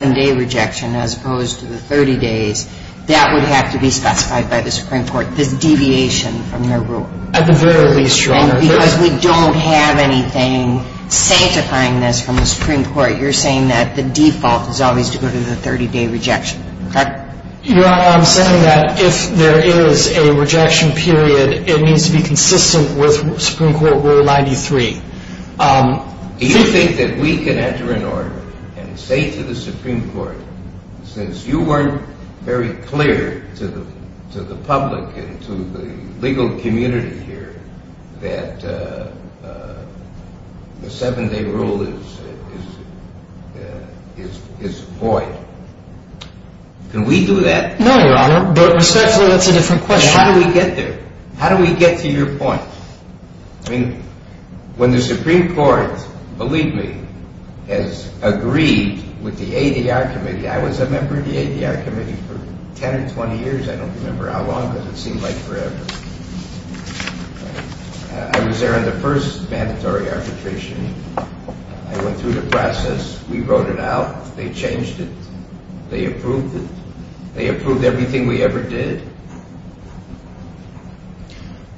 And a rejection as opposed to the 30 days that would have to be specified by the Supreme Court. This deviation from their rule, at the very least, because we don't have anything sanctifying this from the Supreme Court. You're saying that the default is always to go to the 30 day rejection that I'm saying that if there is a rejection period, it needs to be consistent with Supreme Court Rule 93. Do you think that we can enter in order and say to the Supreme Court, since you weren't very clear to the public and to the legal community here, that the seven day rule is void? Can we do that? No, Your Honor, but respectfully that's a different question. How do we get there? How do we get to your point? When the Supreme Court, believe me, has agreed with the ADR Committee, I was a member of the ADR Committee for 10 or 20 years. I don't remember how long, but it seemed like forever. I was there on the first mandatory arbitration. I went through the process. We wrote it out. They changed it. They approved it. They approved everything we ever did.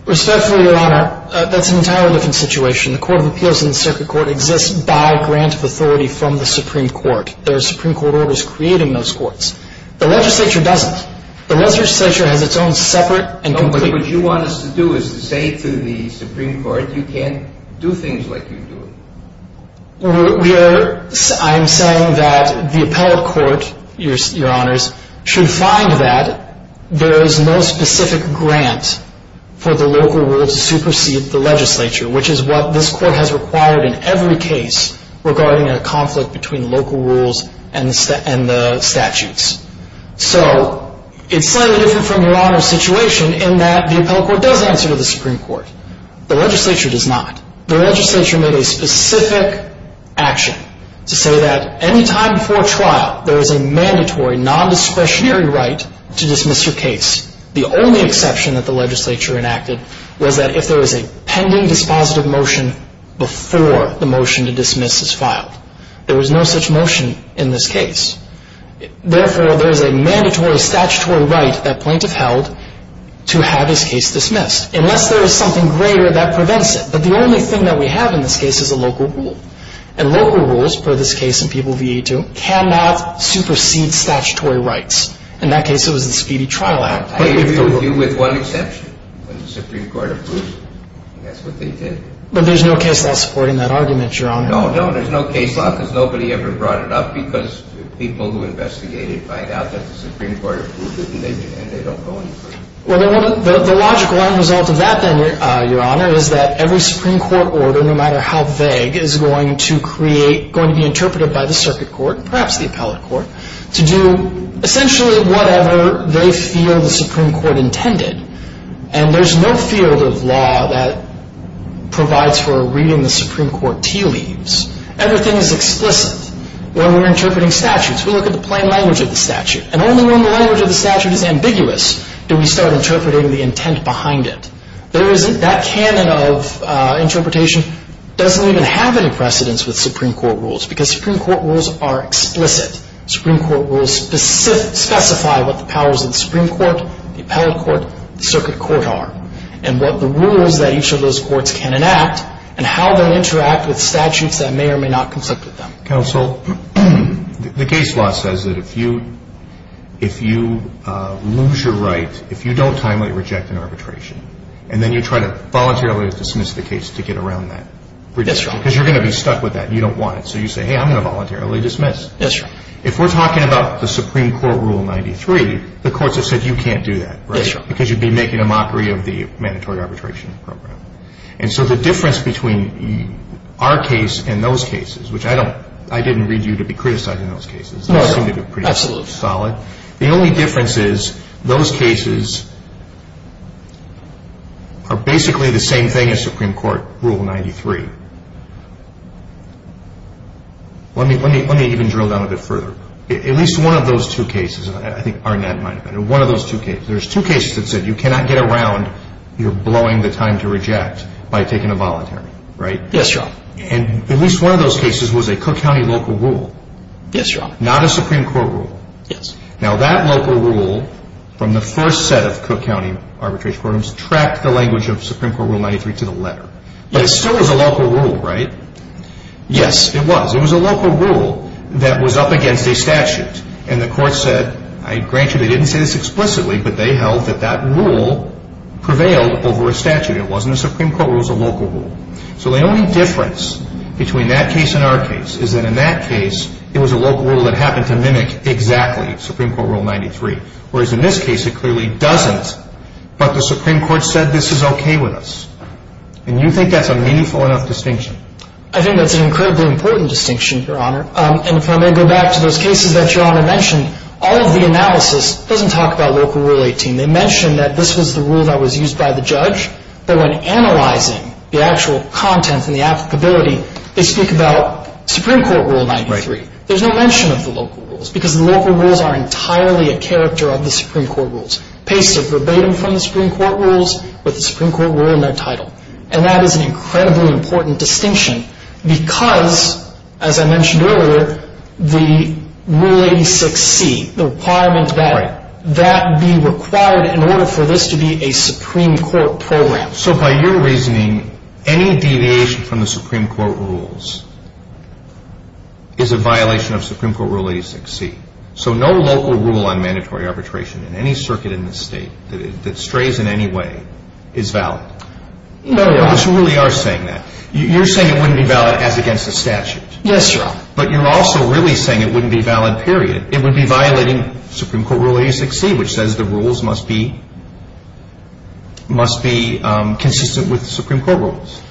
Respectfully, Your Honor, that's an entirely different situation. The Court of Appeals in the Circuit Court exists by grant of authority from the Supreme Court. There are Supreme Court orders creating those courts. The legislature doesn't. The legislature has its own separate and complete... No, but what you want us to do is to say to the Supreme Court, you can't do things like you do. I'm saying that the appellate court, Your Honors, should find that there is no specific grant for the local rule to supersede the legislature, which is what this court has required in every case regarding a conflict between local rules and the statutes. So it's slightly different from Your Honor's situation in that the appellate court does answer to the Supreme Court. The legislature does not. The legislature made a specific action to say that any time before trial, there is a mandatory non-discretionary right to dismiss your case. The only exception that the legislature enacted was that if there was a pending dispositive motion before the motion to dismiss is filed. There was no such motion in this case. Therefore, there is a mandatory statutory right that plaintiff held to have his case dismissed. Unless there is something greater, that prevents it. But the only thing that we have in this case is a local rule. And local rules, per this case in People v. E2, cannot supersede statutory rights. In that case, it was the Speedy Trial Act. I agree with you with one exception, when the Supreme Court approved it. And that's what they did. But there's no case law supporting that argument, Your Honor. No, no, there's no case law because nobody ever brought it up because people who investigated find out that the Supreme Court approved it, and they don't go any further. Well, the logical end result of that, then, Your Honor, is that every Supreme Court order, no matter how vague, is going to be interpreted by the circuit court, perhaps the appellate court, to do essentially whatever they feel the Supreme Court intended. And there's no field of law that provides for reading the Supreme Court tea leaves. Everything is explicit. When we're interpreting statutes, we look at the plain language of the statute. And only when the language of the statute is ambiguous do we start interpreting the intent behind it. That canon of interpretation doesn't even have any precedence with Supreme Court rules because Supreme Court rules are explicit. Supreme Court rules specify what the powers of the Supreme Court, the appellate court, the circuit court are and what the rules that each of those courts can enact and how they interact with statutes that may or may not conflict with them. Counsel, the case law says that if you lose your right, if you don't timely reject an arbitration, and then you try to voluntarily dismiss the case to get around that rejection, because you're going to be stuck with that and you don't want it. So you say, hey, I'm going to voluntarily dismiss. Yes, Your Honor. If we're talking about the Supreme Court Rule 93, the courts have said you can't do that, right? Yes, Your Honor. Because you'd be making a mockery of the mandatory arbitration program. And so the difference between our case and those cases, which I didn't read you to be criticized in those cases. No, absolutely. They seem to be pretty solid. The only difference is those cases are basically the same thing as Supreme Court Rule 93. Let me even drill down a bit further. At least one of those two cases, I think Arnett might have been, one of those two cases, there's two cases that said you cannot get around your blowing the time to reject by taking a voluntary, right? Yes, Your Honor. And at least one of those cases was a Cook County local rule. Yes, Your Honor. Not a Supreme Court rule. Yes. Now that local rule from the first set of Cook County arbitration programs tracked the language of Supreme Court Rule 93 to the letter. Yes. But it still was a local rule, right? Yes. It was. It was a local rule that was up against a statute. And the court said, I grant you they didn't say this explicitly, but they held that that rule prevailed over a statute. It wasn't a Supreme Court rule. It was a local rule. So the only difference between that case and our case is that in that case, it was a local rule that happened to mimic exactly Supreme Court Rule 93, whereas in this case it clearly doesn't, but the Supreme Court said this is okay with us. And you think that's a meaningful enough distinction? I think that's an incredibly important distinction, Your Honor. And if I may go back to those cases that Your Honor mentioned, all of the analysis doesn't talk about local rule 18. They mention that this was the rule that was used by the judge, but when analyzing the actual content and the applicability, they speak about Supreme Court Rule 93. Right. There's no mention of the local rules, because the local rules are entirely a character of the Supreme Court rules, pasted verbatim from the Supreme Court rules with the Supreme Court rule in their title. And that is an incredibly important distinction, because, as I mentioned earlier, the Rule 86C, the requirement that that be required in order for this to be a Supreme Court program. So by your reasoning, any deviation from the Supreme Court rules is a violation of Supreme Court Rule 86C. So no local rule on mandatory arbitration in any circuit in this state that strays in any way is valid? No, Your Honor. So you really are saying that. You're saying it wouldn't be valid as against the statute. Yes, Your Honor. But you're also really saying it wouldn't be valid, period. It would be violating Supreme Court Rule 86C, which says the rules must be consistent with the Supreme Court rules.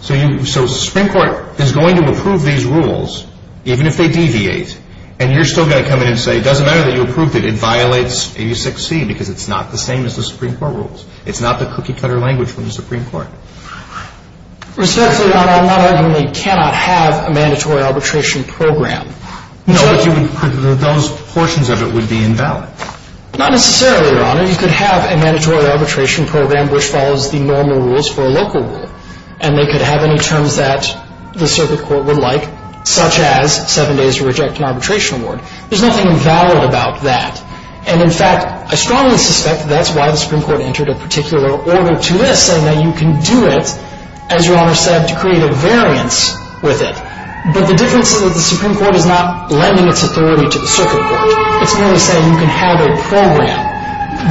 So the Supreme Court is going to approve these rules, even if they deviate, and you're still going to come in and say it doesn't matter that you approved it, it violates 86C because it's not the same as the Supreme Court rules. It's not the cookie-cutter language from the Supreme Court. Respectfully, Your Honor, I'm not arguing they cannot have a mandatory arbitration program. No, but those portions of it would be invalid. Not necessarily, Your Honor. You could have a mandatory arbitration program which follows the normal rules for a local rule, and they could have any terms that the circuit court would like, such as seven days to reject an arbitration award. There's nothing invalid about that. And, in fact, I strongly suspect that's why the Supreme Court entered a particular order to this, saying that you can do it, as Your Honor said, to create a variance with it. But the difference is that the Supreme Court is not lending its authority to the circuit court. It's merely saying you can have a program.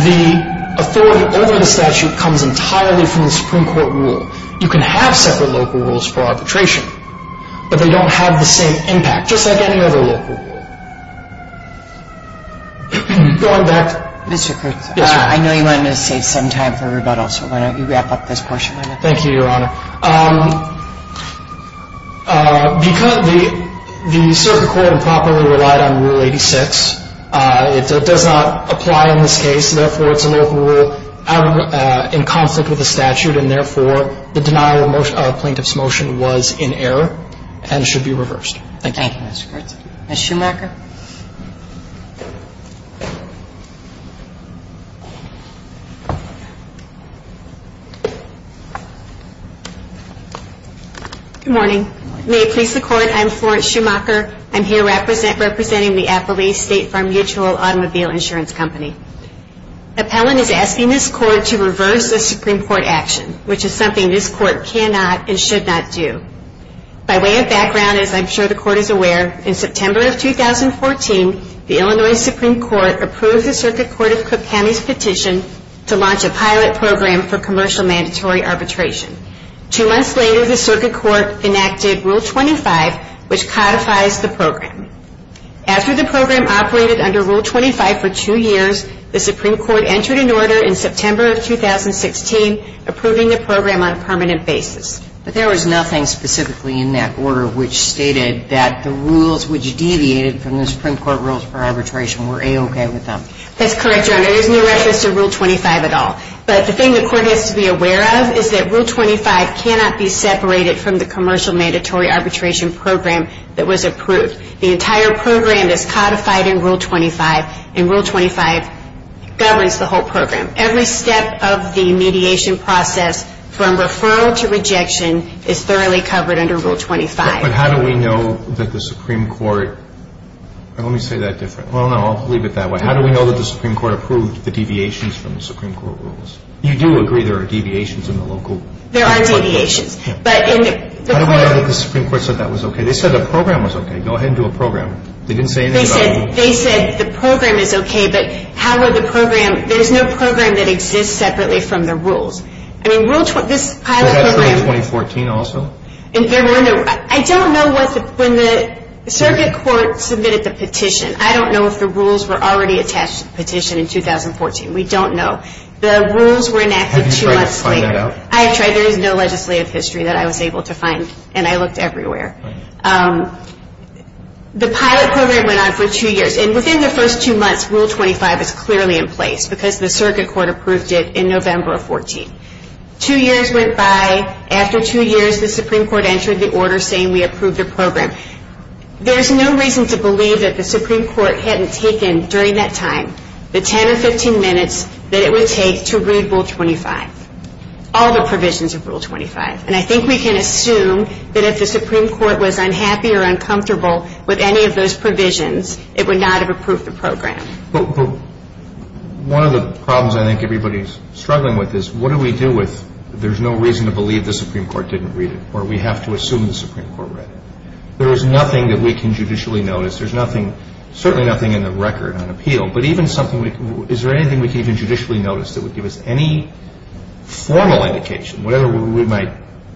The authority over the statute comes entirely from the Supreme Court rule. You can have separate local rules for arbitration, but they don't have the same impact, just like any other local rule. Going back to Mr. Krug. Yes, Your Honor. I know you wanted to save some time for rebuttal, so why don't you wrap up this portion of it? Thank you, Your Honor. Because the circuit court improperly relied on Rule 86, it does not apply in this case. Therefore, it's a local rule in conflict with the statute, and, therefore, the denial of plaintiff's motion was in error and should be reversed. Thank you. Thank you, Mr. Kurtz. Ms. Schumacher. Good morning. May it please the Court, I'm Florence Schumacher. I'm here representing the Appalachia State Farm Mutual Automobile Insurance Company. Appellant is asking this Court to reverse a Supreme Court action, which is something this Court cannot and should not do. By way of background, as I'm sure the Court is aware, in September of 2014, the Illinois Supreme Court approved the Circuit Court of Cook County's petition to launch a pilot program for commercial mandatory arbitration. Two months later, the Circuit Court enacted Rule 25, which codifies the program. After the program operated under Rule 25 for two years, the Supreme Court entered an order in September of 2016 approving the program on a permanent basis. But there was nothing specifically in that order which stated that the rules which deviated from the Supreme Court rules for arbitration were A-OK with them. That's correct, Your Honor. There's no reference to Rule 25 at all. But the thing the Court has to be aware of is that Rule 25 cannot be separated from the commercial mandatory arbitration program that was approved. The entire program is codified in Rule 25, and Rule 25 governs the whole program. Every step of the mediation process from referral to rejection is thoroughly covered under Rule 25. But how do we know that the Supreme Court – let me say that different. Well, no, I'll leave it that way. How do we know that the Supreme Court approved the deviations from the Supreme Court rules? You do agree there are deviations in the local – There are deviations, but in the – How do we know that the Supreme Court said that was OK? They said the program was OK. Go ahead and do a program. They didn't say anything about – They said the program is OK, but how would the program – there's no program that exists separately from the rules. I mean, Rule – this pilot program – Was that true in 2014 also? There were no – I don't know what the – when the circuit court submitted the petition. I don't know if the rules were already attached to the petition in 2014. We don't know. The rules were enacted two months later. Have you tried to find that out? I have tried. There is no legislative history that I was able to find, and I looked everywhere. The pilot program went on for two years. And within the first two months, Rule 25 is clearly in place because the circuit court approved it in November of 2014. Two years went by. After two years, the Supreme Court entered the order saying we approved the program. There is no reason to believe that the Supreme Court hadn't taken, during that time, the 10 or 15 minutes that it would take to read Rule 25, all the provisions of Rule 25. And I think we can assume that if the Supreme Court was unhappy or uncomfortable with any of those provisions, it would not have approved the program. But one of the problems I think everybody is struggling with is what do we do with there's no reason to believe the Supreme Court didn't read it, or we have to assume the Supreme Court read it? There is nothing that we can judicially notice. There's nothing – certainly nothing in the record on appeal, but even something – is there anything we can even judicially notice that would give us any formal indication, whatever we might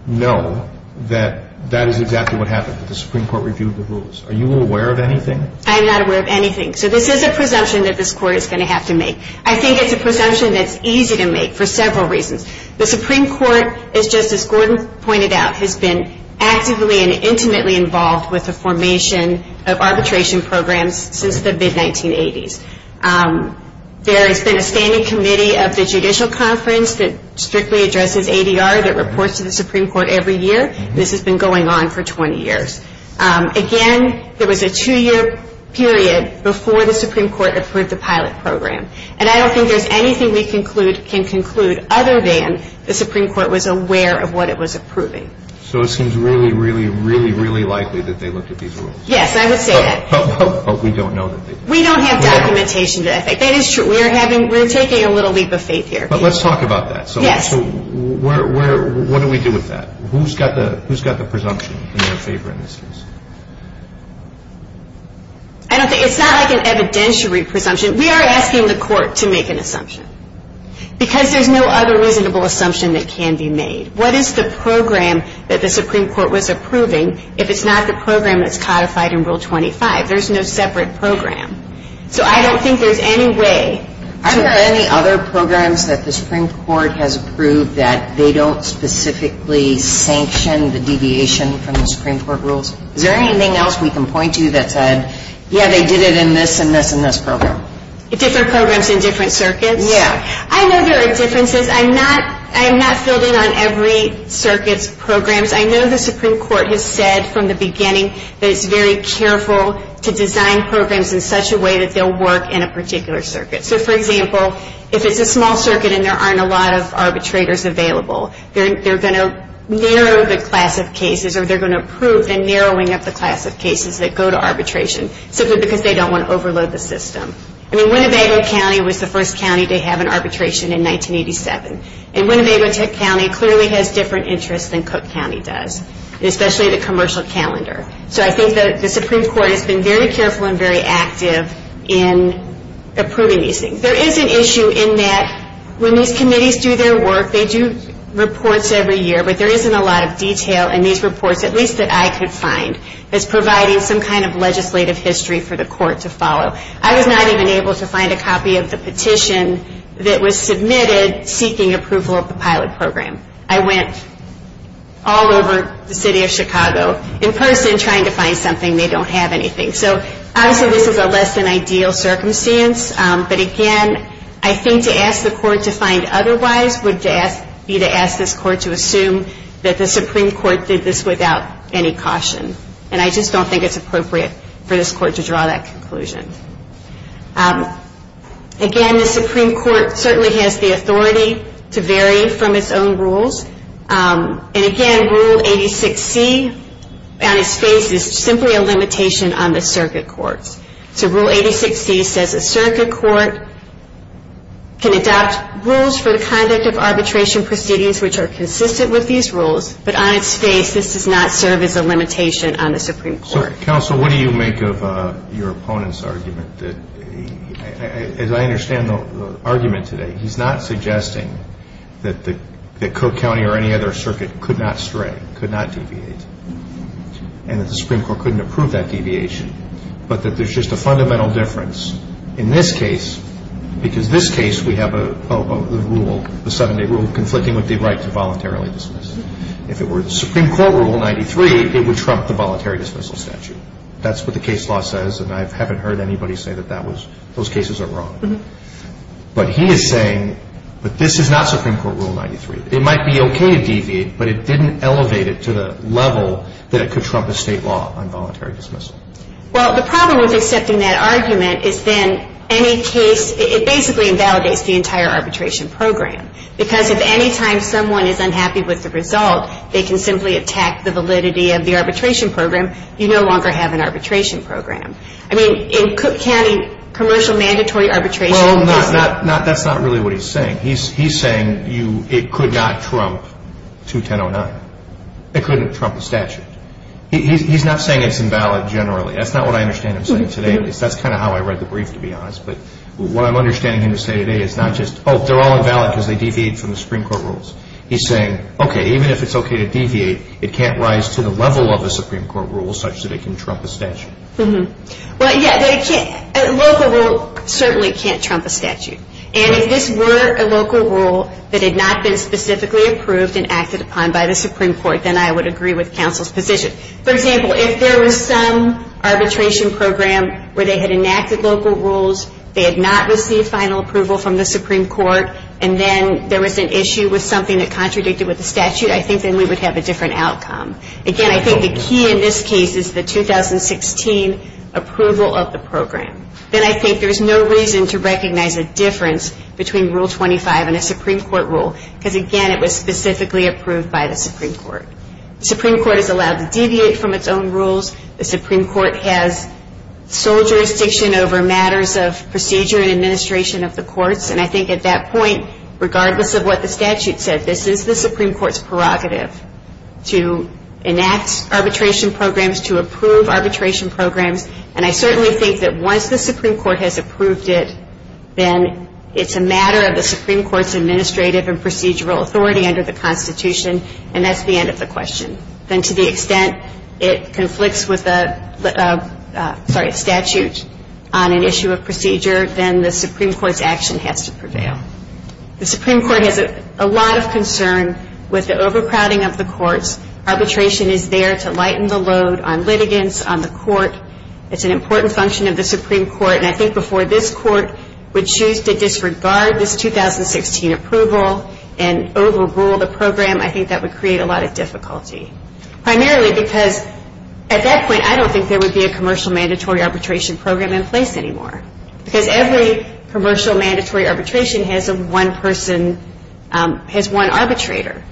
know, that that is exactly what happened, that the Supreme Court reviewed the rules? Are you aware of anything? I am not aware of anything. So this is a presumption that this Court is going to have to make. I think it's a presumption that's easy to make for several reasons. The Supreme Court, as Justice Gordon pointed out, has been actively and intimately involved with the formation of arbitration programs since the mid-1980s. There has been a standing committee of the Judicial Conference that strictly addresses ADR, that reports to the Supreme Court every year. This has been going on for 20 years. Again, there was a two-year period before the Supreme Court approved the pilot program. And I don't think there's anything we can conclude other than the Supreme Court was aware of what it was approving. So it seems really, really, really, really likely that they looked at these rules. But we don't know that they did. We don't have documentation. That is true. We're taking a little leap of faith here. But let's talk about that. Yes. So what do we do with that? Who's got the presumption in their favor in this case? It's not like an evidentiary presumption. We are asking the Court to make an assumption because there's no other reasonable assumption that can be made. What is the program that the Supreme Court was approving if it's not the program that's codified in Rule 25? There's no separate program. So I don't think there's any way. Are there any other programs that the Supreme Court has approved that they don't specifically sanction the deviation from the Supreme Court rules? Is there anything else we can point to that said, yeah, they did it in this and this and this program? Different programs in different circuits? Yeah. I know there are differences. I'm not fielding on every circuit's programs. I know the Supreme Court has said from the beginning that it's very careful to design programs in such a way that they'll work in a particular circuit. So, for example, if it's a small circuit and there aren't a lot of arbitrators available, they're going to narrow the class of cases or they're going to approve the narrowing of the class of cases that go to arbitration simply because they don't want to overload the system. I mean, Winnebago County was the first county to have an arbitration in 1987. And Winnebago County clearly has different interests than Cook County does, especially the commercial calendar. So I think that the Supreme Court has been very careful and very active in approving these things. There is an issue in that when these committees do their work, they do reports every year, but there isn't a lot of detail in these reports, at least that I could find, that's providing some kind of legislative history for the court to follow. I was not even able to find a copy of the petition that was submitted seeking approval of the pilot program. I went all over the city of Chicago in person trying to find something. They don't have anything. So, obviously, this is a less-than-ideal circumstance. But, again, I think to ask the court to find otherwise would be to ask this court to assume that the Supreme Court did this without any caution. And I just don't think it's appropriate for this court to draw that conclusion. Again, the Supreme Court certainly has the authority to vary from its own rules. And, again, Rule 86C, on its face, is simply a limitation on the circuit courts. So Rule 86C says a circuit court can adopt rules for the conduct of arbitration proceedings which are consistent with these rules, but on its face this does not serve as a limitation on the Supreme Court. Counsel, what do you make of your opponent's argument? As I understand the argument today, he's not suggesting that Cook County or any other circuit could not stray, could not deviate, and that the Supreme Court couldn't approve that deviation, but that there's just a fundamental difference in this case because this case we have a rule, a seven-day rule, conflicting with the right to voluntarily dismiss. If it were the Supreme Court Rule 93, it would trump the voluntary dismissal statute. That's what the case law says, and I haven't heard anybody say that those cases are wrong. But he is saying that this is not Supreme Court Rule 93. It might be okay to deviate, but it didn't elevate it to the level that it could trump a state law on voluntary dismissal. Well, the problem with accepting that argument is then any case, it basically invalidates the entire arbitration program because if any time someone is unhappy with the result, they can simply attack the validity of the arbitration program. You no longer have an arbitration program. I mean, in Cook County, commercial mandatory arbitration doesn't... Well, that's not really what he's saying. He's saying it could not trump 21009. It couldn't trump the statute. He's not saying it's invalid generally. That's not what I understand him saying today. That's kind of how I read the brief, to be honest. But what I'm understanding him to say today is not just, oh, they're all invalid because they deviate from the Supreme Court Rules. He's saying, okay, even if it's okay to deviate, it can't rise to the level of the Supreme Court Rules such that it can trump a statute. Well, yeah, a local rule certainly can't trump a statute. And if this were a local rule that had not been specifically approved and acted upon by the Supreme Court, then I would agree with counsel's position. For example, if there was some arbitration program where they had enacted local rules, they had not received final approval from the Supreme Court, and then there was an issue with something that contradicted with the statute, I think then we would have a different outcome. Again, I think the key in this case is the 2016 approval of the program. Then I think there's no reason to recognize a difference between Rule 25 and a Supreme Court rule because, again, it was specifically approved by the Supreme Court. The Supreme Court is allowed to deviate from its own rules. The Supreme Court has sole jurisdiction over matters of procedure and administration of the courts. And I think at that point, regardless of what the statute said, this is the Supreme Court's prerogative to enact arbitration programs, to approve arbitration programs. And I certainly think that once the Supreme Court has approved it, then it's a matter of the Supreme Court's administrative and procedural authority under the Constitution, and that's the end of the question. Then to the extent it conflicts with the statute on an issue of procedure, then the Supreme Court's action has to prevail. The Supreme Court has a lot of concern with the overcrowding of the courts. Arbitration is there to lighten the load on litigants, on the court. It's an important function of the Supreme Court, and I think before this Court would choose to disregard this 2016 approval and overrule the program, I think that would create a lot of difficulty, primarily because at that point, I don't think there would be a commercial mandatory arbitration program in place anymore, because every commercial mandatory arbitration has one person, has one arbitrator.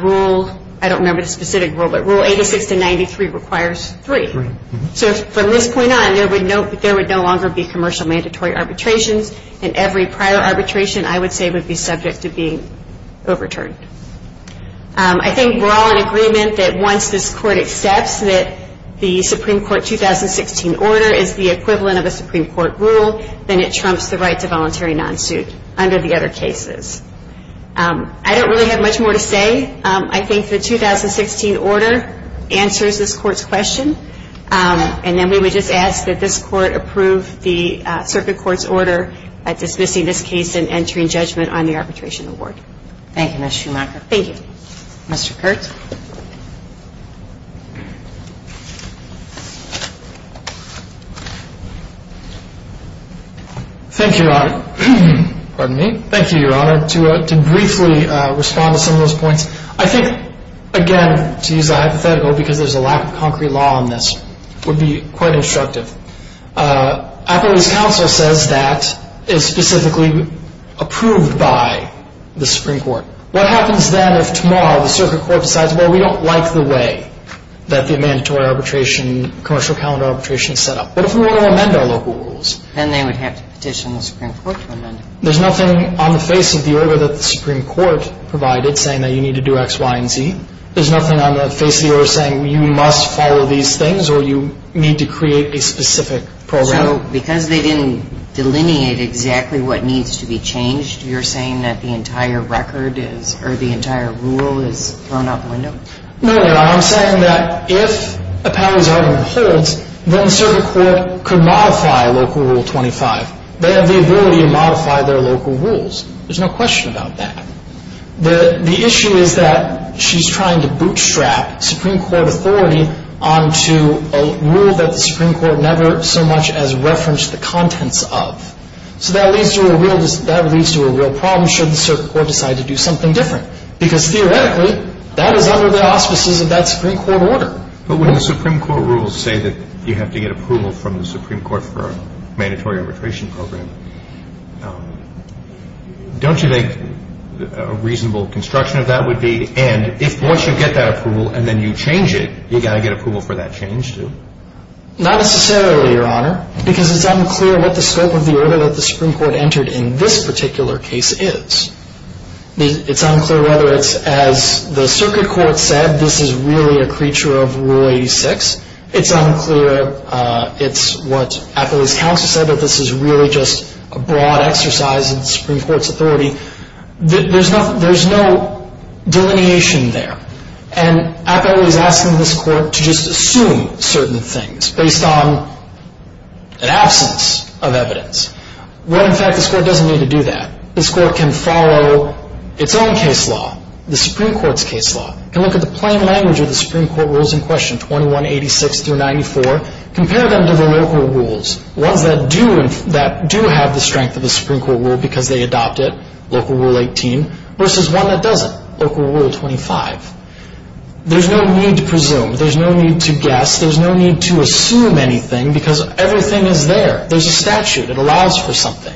Rule, I don't remember the specific rule, but Rule 86 to 93 requires three. So from this point on, there would no longer be commercial mandatory arbitrations, and every prior arbitration, I would say, would be subject to being overturned. I think we're all in agreement that once this Court accepts that the Supreme Court 2016 order is the equivalent of a Supreme Court rule, then it trumps the right to voluntary non-suit under the other cases. I don't really have much more to say. I think the 2016 order answers this Court's question, and then we would just ask that this Court approve the circuit court's order at dismissing this case and entering judgment on the arbitration award. Thank you, Ms. Schumacher. Thank you. Mr. Kurtz. Thank you, Your Honor. Pardon me? Thank you, Your Honor. To briefly respond to some of those points, I think, again, to use a hypothetical, because there's a lack of concrete law on this, would be quite instructive. Appellee's counsel says that is specifically approved by the Supreme Court. What happens then if tomorrow the circuit court decides, well, we don't like the way that the mandatory arbitration, commercial calendar arbitration is set up? What if we want to amend our local rules? Then they would have to petition the Supreme Court to amend it. There's nothing on the face of the order that the Supreme Court provided saying that you need to do X, Y, and Z. There's nothing on the face of the order saying you must follow these things or you need to create a specific program. So because they didn't delineate exactly what needs to be changed, you're saying that the entire record is or the entire rule is thrown out the window? No, Your Honor. I'm saying that if Appellee's argument holds, then the circuit court could modify Local Rule 25. They have the ability to modify their local rules. There's no question about that. The issue is that she's trying to bootstrap Supreme Court authority onto a rule that the Supreme Court never so much as referenced the contents of. So that leads to a real problem should the circuit court decide to do something different because theoretically that is under the auspices of that Supreme Court order. But when the Supreme Court rules say that you have to get approval from the Supreme Court for a mandatory arbitration program, don't you think a reasonable construction of that would be and if once you get that approval and then you change it, you've got to get approval for that change too? Not necessarily, Your Honor, because it's unclear what the scope of the order that the Supreme Court entered in this particular case is. It's unclear whether it's as the circuit court said, this is really a creature of Rule 86. It's unclear, it's what Appellee's counsel said, that this is really just a broad exercise of the Supreme Court's authority. There's no delineation there. And Appellee's asking this court to just assume certain things based on an absence of evidence. Well, in fact, this court doesn't need to do that. This court can follow its own case law, the Supreme Court's case law. It can look at the plain language of the Supreme Court rules in question, 2186 through 94, compare them to the local rules, ones that do have the strength of the Supreme Court rule because they adopt it, Local Rule 18, versus one that doesn't, Local Rule 25. There's no need to presume. There's no need to guess. There's no need to assume anything because everything is there. There's a statute. It allows for something.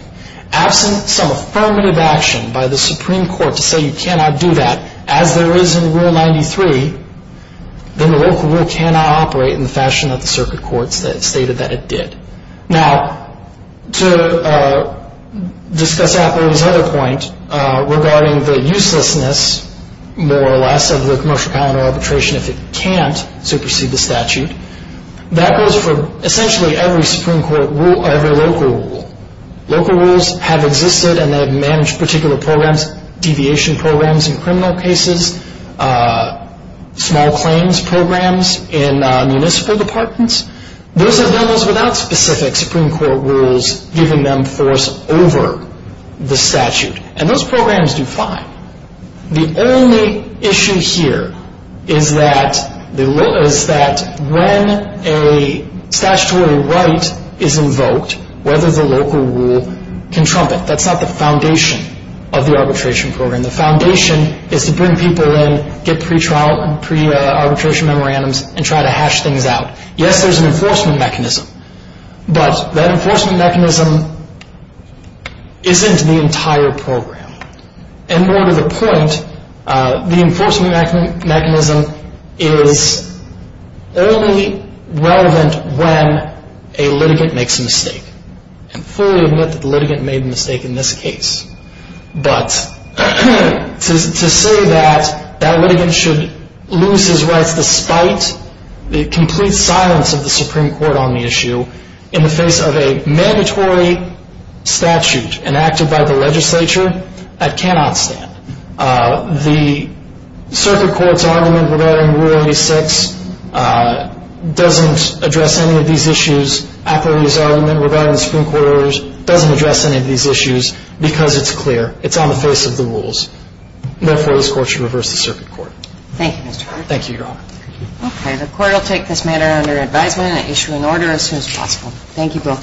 Absent some affirmative action by the Supreme Court to say you cannot do that, as there is in Rule 93, then the local rule cannot operate in the fashion that the circuit court stated that it did. Now, to discuss Appellee's other point regarding the uselessness, more or less, of the commercial calendar arbitration if it can't supersede the statute, that goes for essentially every local rule. Local rules have existed, and they have managed particular programs, deviation programs in criminal cases, small claims programs in municipal departments. Those have done those without specific Supreme Court rules giving them force over the statute, and those programs do fine. The only issue here is that when a statutory right is invoked, whether the local rule can trump it. That's not the foundation of the arbitration program. The foundation is to bring people in, get pretrial and pre-arbitration memorandums, and try to hash things out. Yes, there's an enforcement mechanism, but that enforcement mechanism isn't the entire program. And more to the point, the enforcement mechanism is only relevant when a litigant makes a mistake. I fully admit that the litigant made a mistake in this case, but to say that that litigant should lose his rights despite the complete silence of the Supreme Court on the issue in the face of a mandatory statute enacted by the legislature, that cannot stand. The circuit court's argument regarding Rule 86 doesn't address any of these issues. Appleby's argument regarding the Supreme Court orders doesn't address any of these issues because it's clear. It's on the face of the rules. Therefore, this Court should reverse the circuit court. Thank you, Mr. Hart. Thank you, Your Honor. Okay. The Court will take this matter under advisement and issue an order as soon as possible. Thank you both.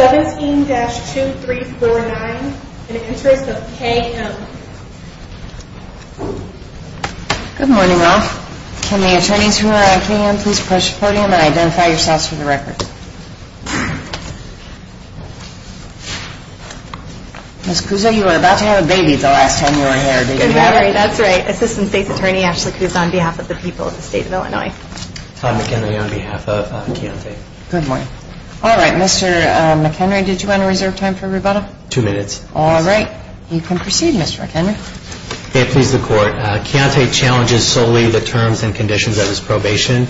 17-2349 in the interest of KM. Good morning, all. Can the attorneys who are on KM please approach the podium and identify yourselves for the record? Ms. Cuso, you were about to have a baby the last time you were here, didn't you? That's right. Assistant State's Attorney Ashley Cuso on behalf of the people of the State of Illinois. Tom McHenry on behalf of Keontae. Good morning. All right. Mr. McHenry, did you want to reserve time for rebuttal? Two minutes. You can proceed, Mr. McHenry. May it please the Court. Keontae challenges solely the terms and conditions of his probation,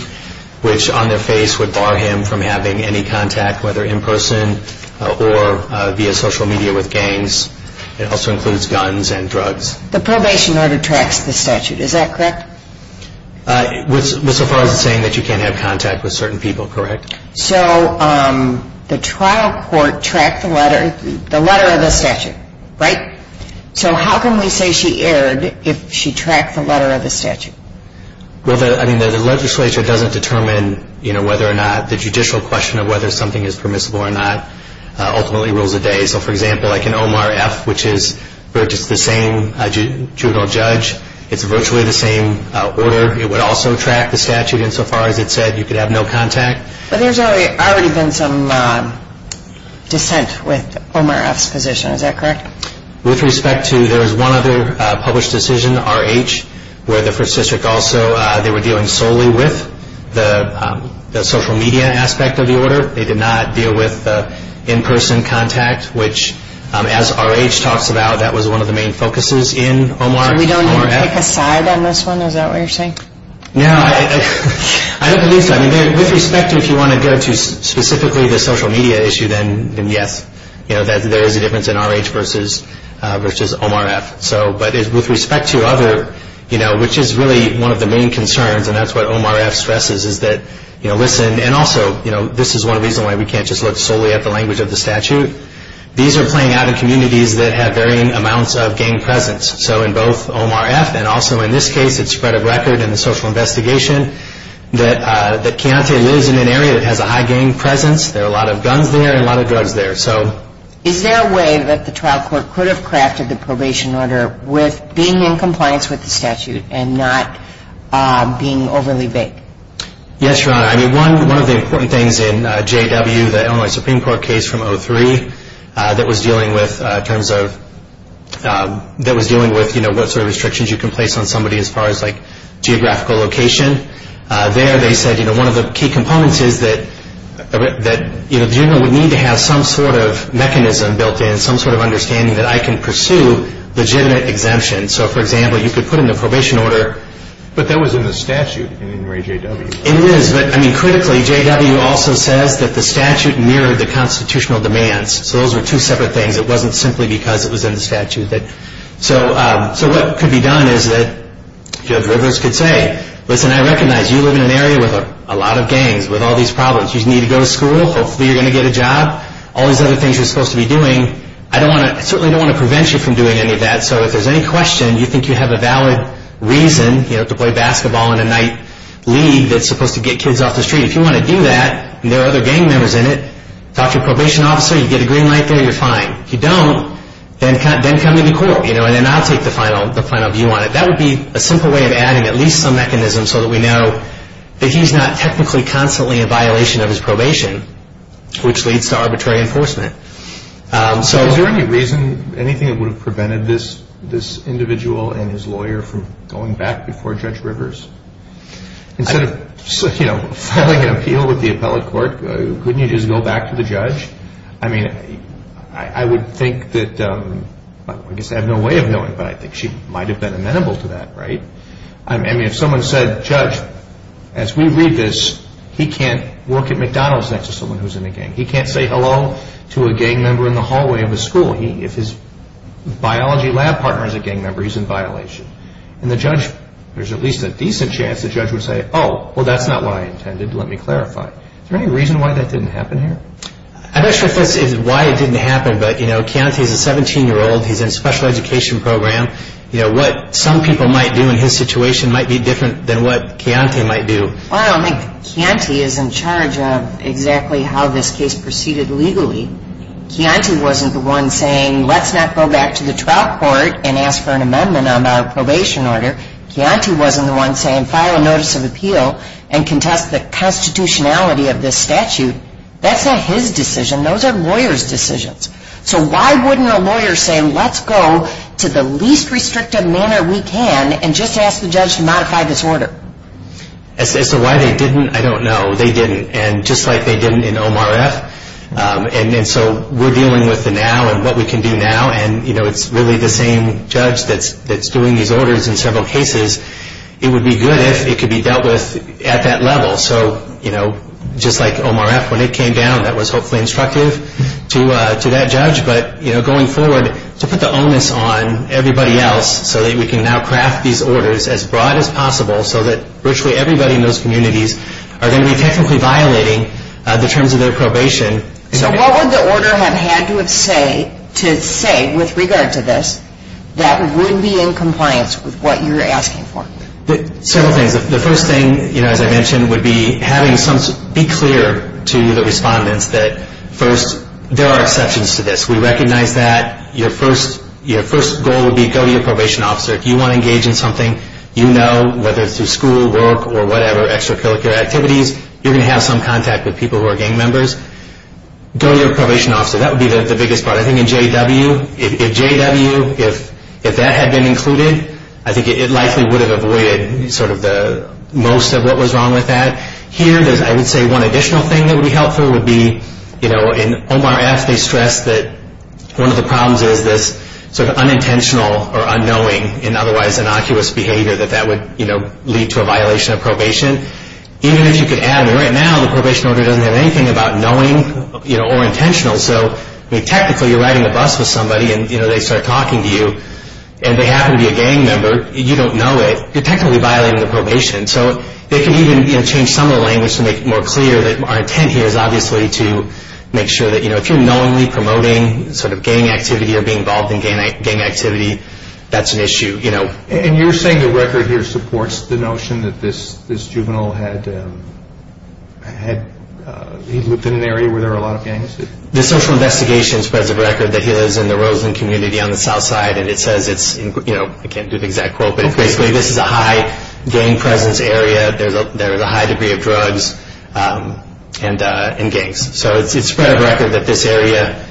which on their face would bar him from having any contact, whether in person or via social media with gangs. It also includes guns and drugs. The probation order tracks the statute. Is that correct? With so far as it's saying that you can't have contact with certain people, correct? So the trial court tracked the letter of the statute, right? So how can we say she erred if she tracked the letter of the statute? Well, I mean, the legislature doesn't determine, you know, whether or not the judicial question of whether something is permissible or not ultimately rules the day. So, for example, like in Omar F., which is the same juvenile judge, it's virtually the same order. It would also track the statute insofar as it said you could have no contact. But there's already been some dissent with Omar F.'s position. Is that correct? With respect to, there was one other published decision, R.H., where the first district also, they were dealing solely with the social media aspect of the order. They did not deal with in-person contact, which, as R.H. talks about, that was one of the main focuses in Omar F. So we don't need to pick a side on this one? Is that what you're saying? No, I don't believe so. I mean, with respect to if you want to go to specifically the social media issue, then yes. You know, there is a difference in R.H. versus Omar F. So, but with respect to other, you know, which is really one of the main concerns, and that's what Omar F. stresses is that, you know, listen, and also, you know, this is one reason why we can't just look solely at the language of the statute. These are playing out in communities that have varying amounts of gang presence. So in both Omar F. and also in this case, it's spread of record in the social investigation that Chianti lives in an area that has a high gang presence. There are a lot of guns there and a lot of drugs there. So is there a way that the trial court could have crafted the probation order with being in compliance with the statute and not being overly vague? Yes, Your Honor. I mean, one of the important things in J.W., the Illinois Supreme Court case from 2003, that was dealing with terms of, that was dealing with, you know, what sort of restrictions you can place on somebody as far as, like, geographical location. There they said, you know, one of the key components is that, you know, the general would need to have some sort of mechanism built in, some sort of understanding that I can pursue legitimate exemption. So, for example, you could put in the probation order. But that was in the statute in Ray J.W. It is. But, I mean, critically, J.W. also says that the statute mirrored the constitutional demands. So those were two separate things. It wasn't simply because it was in the statute. So what could be done is that Judge Rivers could say, listen, I recognize you live in an area with a lot of gangs, with all these problems. You need to go to school. Hopefully you're going to get a job. All these other things you're supposed to be doing, I don't want to, I certainly don't want to prevent you from doing any of that. So if there's any question, you think you have a valid reason, you know, to play basketball in a night league that's supposed to get kids off the street, if you want to do that and there are other gang members in it, talk to your probation officer, you get a green light there, you're fine. If you don't, then come to the court, you know, and then I'll take the final view on it. That would be a simple way of adding at least some mechanism so that we know that he's not technically constantly a violation of his probation, which leads to arbitrary enforcement. So is there any reason, anything that would have prevented this individual and his lawyer from going back before Judge Rivers? Instead of, you know, filing an appeal with the appellate court, couldn't you just go back to the judge? I mean, I would think that, I guess I have no way of knowing, but I think she might have been amenable to that, right? I mean, if someone said, Judge, as we read this, he can't work at McDonald's next to someone who's in a gang. He can't say hello to a gang member in the hallway of a school. If his biology lab partner is a gang member, he's in violation. And the judge, there's at least a decent chance the judge would say, oh, well that's not what I intended, let me clarify. Is there any reason why that didn't happen here? I'm not sure if this is why it didn't happen, but, you know, Chianti is a 17-year-old. He's in a special education program. You know, what some people might do in his situation might be different than what Chianti might do. Well, I don't think Chianti is in charge of exactly how this case proceeded legally. Chianti wasn't the one saying, let's not go back to the trial court and ask for an amendment on a probation order. Chianti wasn't the one saying, file a notice of appeal and contest the constitutionality of this statute. That's not his decision. Those are lawyers' decisions. So why wouldn't a lawyer say, let's go to the least restrictive manner we can and just ask the judge to modify this order? As to why they didn't, I don't know. They didn't. And just like they didn't in OMRF, and so we're dealing with the now and what we can do now, and, you know, it's really the same judge that's doing these orders in several cases. It would be good if it could be dealt with at that level. So, you know, just like OMRF, when it came down, that was hopefully instructive to that judge. But, you know, going forward, to put the onus on everybody else so that we can now craft these orders as broad as possible so that virtually everybody in those communities are going to be technically violating the terms of their probation. So what would the order have had to say with regard to this that would be in compliance with what you're asking for? Several things. The first thing, you know, as I mentioned, would be having some be clear to the respondents that, first, there are exceptions to this. We recognize that. Your first goal would be go to your probation officer. If you want to engage in something you know, whether it's through school, work, or whatever, extracurricular activities, you're going to have some contact with people who are gang members. Go to your probation officer. That would be the biggest part. I think in JW, if JW, if that had been included, I think it likely would have avoided sort of the most of what was wrong with that. Here, I would say one additional thing that would be helpful would be, you know, in Omar F., they stress that one of the problems is this sort of unintentional or unknowing and otherwise innocuous behavior that that would, you know, lead to a violation of probation. Even if you could add, right now, the probation order doesn't have anything about knowing, you know, or intentional. So, I mean, technically, you're riding a bus with somebody, and, you know, they start talking to you, and they happen to be a gang member. You don't know it. You're technically violating the probation. So, they can even, you know, change some of the language to make it more clear that our intent here is obviously to make sure that, you know, if you're knowingly promoting sort of gang activity or being involved in gang activity, that's an issue, you know. And you're saying the record here supports the notion that this juvenile had, he lived in an area where there were a lot of gangs? The social investigations present record that he lives in the Roseland community on the south side, and it says it's, you know, I can't do the exact quote, but basically this is a high gang presence area. There is a high degree of drugs and gangs. So, it's spread of record that this area,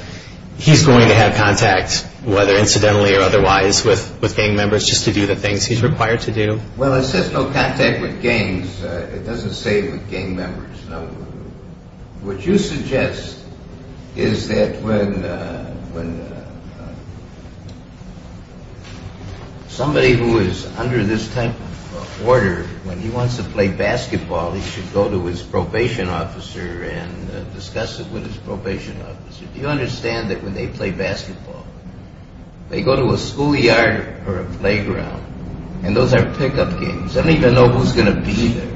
he's going to have contact, whether incidentally or otherwise, with gang members just to do the things he's required to do. Well, it says no contact with gangs. It doesn't say with gang members. What you suggest is that when somebody who is under this type of order, when he wants to play basketball, he should go to his probation officer and discuss it with his probation officer. Do you understand that when they play basketball, they go to a schoolyard or a playground, and those are pickup games. They don't even know who's going to be there.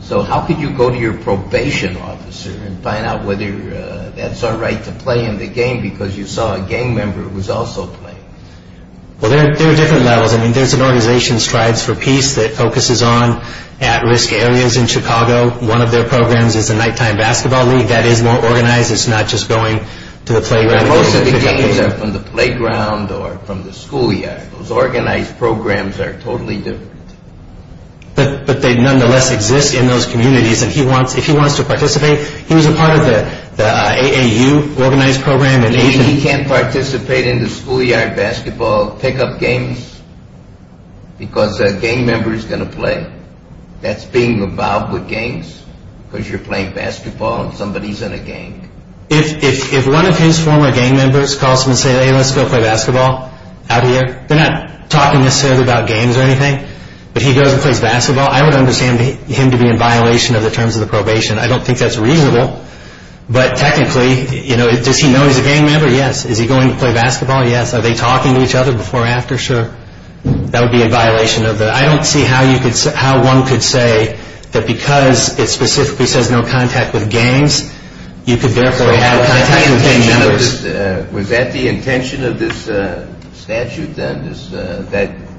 So, how could you go to your probation officer and find out whether that's all right to play in the game because you saw a gang member who was also playing? Well, there are different levels. I mean, there's an organization, Strides for Peace, that focuses on at-risk areas in Chicago. One of their programs is the nighttime basketball league. That is more organized. It's not just going to the playground. Most of the games are from the playground or from the schoolyard. Those organized programs are totally different. But they nonetheless exist in those communities, and if he wants to participate, he was a part of the AAU organized program. He can't participate in the schoolyard basketball pickup games because a gang member is going to play. That's being revolved with gangs because you're playing basketball and somebody is in a gang. If one of his former gang members calls him and says, Hey, let's go play basketball out here, they're not talking necessarily about games or anything, but he goes and plays basketball, I would understand him to be in violation of the terms of the probation. I don't think that's reasonable. But technically, does he know he's a gang member? Yes. Is he going to play basketball? Yes. Are they talking to each other before or after? Sure. That would be in violation of the – I don't see how one could say that because it specifically says no contact with games, you could therefore have contact with gang members. Was that the intention of this statute then,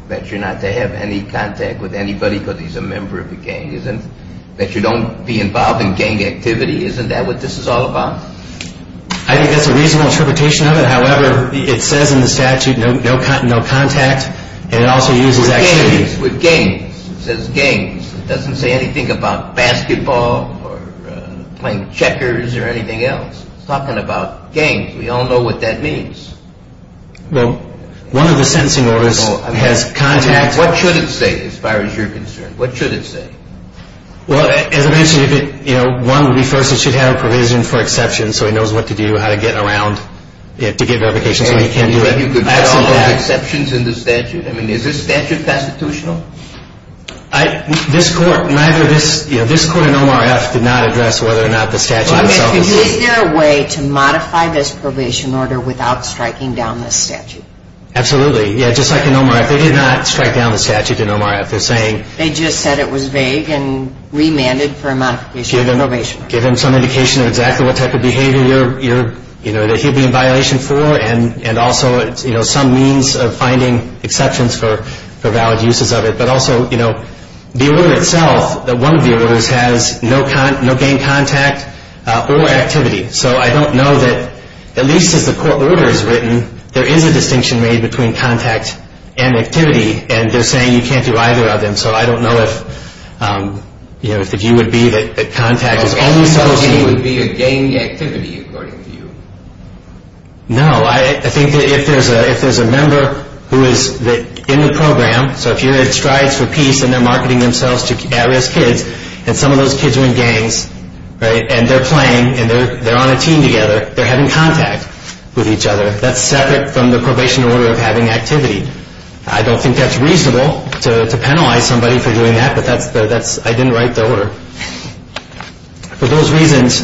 that you're not to have any contact with anybody because he's a member of the gang? That you don't be involved in gang activity? Isn't that what this is all about? I think that's a reasonable interpretation of it. However, it says in the statute no contact and it also uses activity. With games, it says games. It doesn't say anything about basketball or playing checkers or anything else. It's talking about games. We all know what that means. Well, one of the sentencing orders has contact. What should it say as far as you're concerned? What should it say? Well, as I mentioned, one would be first it should have a provision for exception so he knows what to do, how to get around it to get verification so he can't do it. Are there exceptions in the statute? I mean, is this statute constitutional? This court, neither this – this court in OMRF did not address whether or not the statute itself was – Is there a way to modify this probation order without striking down this statute? Absolutely. Yeah, just like in OMRF. They did not strike down the statute in OMRF. They're saying – They just said it was vague and remanded for a modification of the probation order. Give him some indication of exactly what type of behavior you're – that he'd be in violation for and also some means of finding exceptions for valid uses of it. But also, you know, the order itself, one of the orders has no gang contact or activity. So I don't know that at least as the court order is written, there is a distinction made between contact and activity, and they're saying you can't do either of them. So I don't know if, you know, if the view would be that contact is only supposed to be – So the view would be a gang activity according to you? No. I think that if there's a member who is in the program, so if you're at Strides for Peace and they're marketing themselves to at-risk kids and some of those kids are in gangs, right, and they're playing and they're on a team together, they're having contact with each other. That's separate from the probation order of having activity. I don't think that's reasonable to penalize somebody for doing that, but that's – I didn't write the order. For those reasons,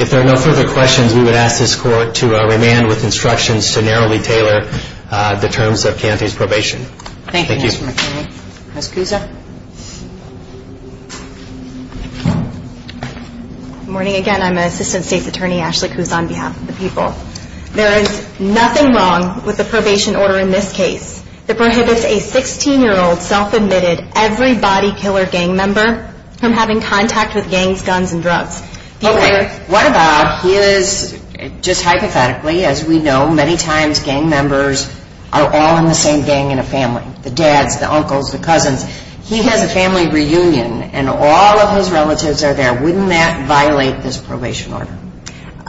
if there are no further questions, we would ask this court to remand with instructions to narrowly tailor the terms of Cante's probation. Thank you. Thank you, Mr. McKinley. Ms. Cusa. Good morning again. I'm Assistant State's Attorney Ashley Cusa on behalf of the people. There is nothing wrong with the probation order in this case that prohibits a 16-year-old self-admitted every-body killer gang member from having contact with gangs, guns, and drugs. Okay. What about his – just hypothetically, as we know, many times gang members are all in the same gang in a family, the dads, the uncles, the cousins. He has a family reunion, and all of his relatives are there. Wouldn't that violate this probation order?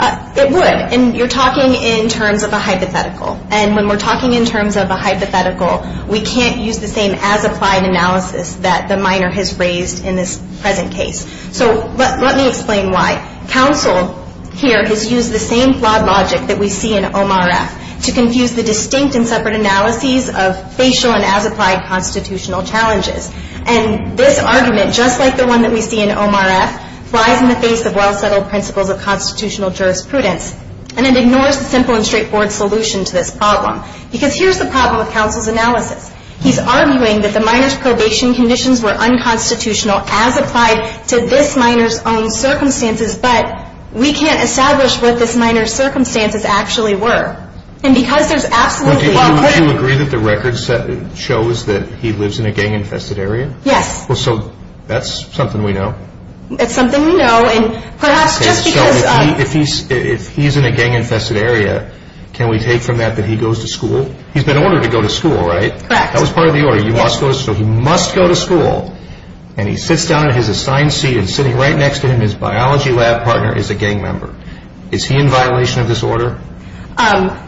It would, and you're talking in terms of a hypothetical, and when we're talking in terms of a hypothetical, we can't use the same as-applied analysis that the minor has raised in this present case. So let me explain why. Counsel here has used the same flawed logic that we see in OMRF to confuse the distinct and separate analyses of facial and as-applied constitutional challenges. And this argument, just like the one that we see in OMRF, lies in the face of well-settled principles of constitutional jurisprudence, and it ignores the simple and straightforward solution to this problem, because here's the problem with counsel's analysis. He's arguing that the minor's probation conditions were unconstitutional as applied to this minor's own circumstances, but we can't establish what this minor's circumstances actually were. And because there's absolutely... Would you agree that the record shows that he lives in a gang-infested area? Yes. So that's something we know. It's something we know, and perhaps just because... So if he's in a gang-infested area, can we take from that that he goes to school? He's been ordered to go to school, right? Correct. That was part of the order. So he must go to school, and he sits down in his assigned seat, and sitting right next to him, his biology lab partner is a gang member. Is he in violation of this order?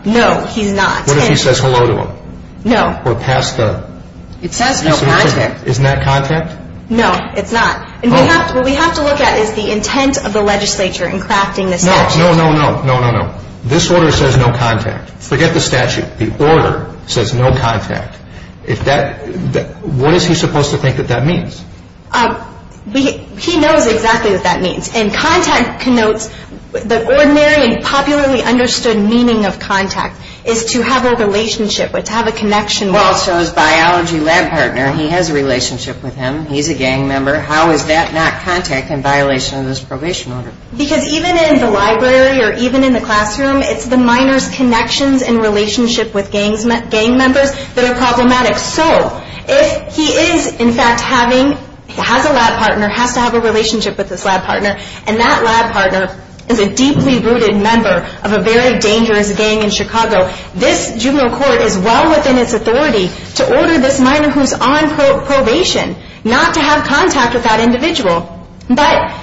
No, he's not. What if he says hello to him? No. Or pass the... It says no contact. Isn't that contact? No, it's not. What we have to look at is the intent of the legislature in crafting this statute. No, no, no, no, no, no, no. This order says no contact. Forget the statute. The order says no contact. What is he supposed to think that that means? He knows exactly what that means. And contact connotes the ordinary and popularly understood meaning of contact is to have a relationship, to have a connection. Well, so his biology lab partner, he has a relationship with him. He's a gang member. How is that not contact in violation of this probation order? Because even in the library or even in the classroom, it's the minor's connections and relationship with gang members that are problematic. So if he is, in fact, having, has a lab partner, has to have a relationship with this lab partner, and that lab partner is a deeply rooted member of a very dangerous gang in Chicago, this juvenile court is well within its authority to order this minor who's on probation not to have contact with that individual. But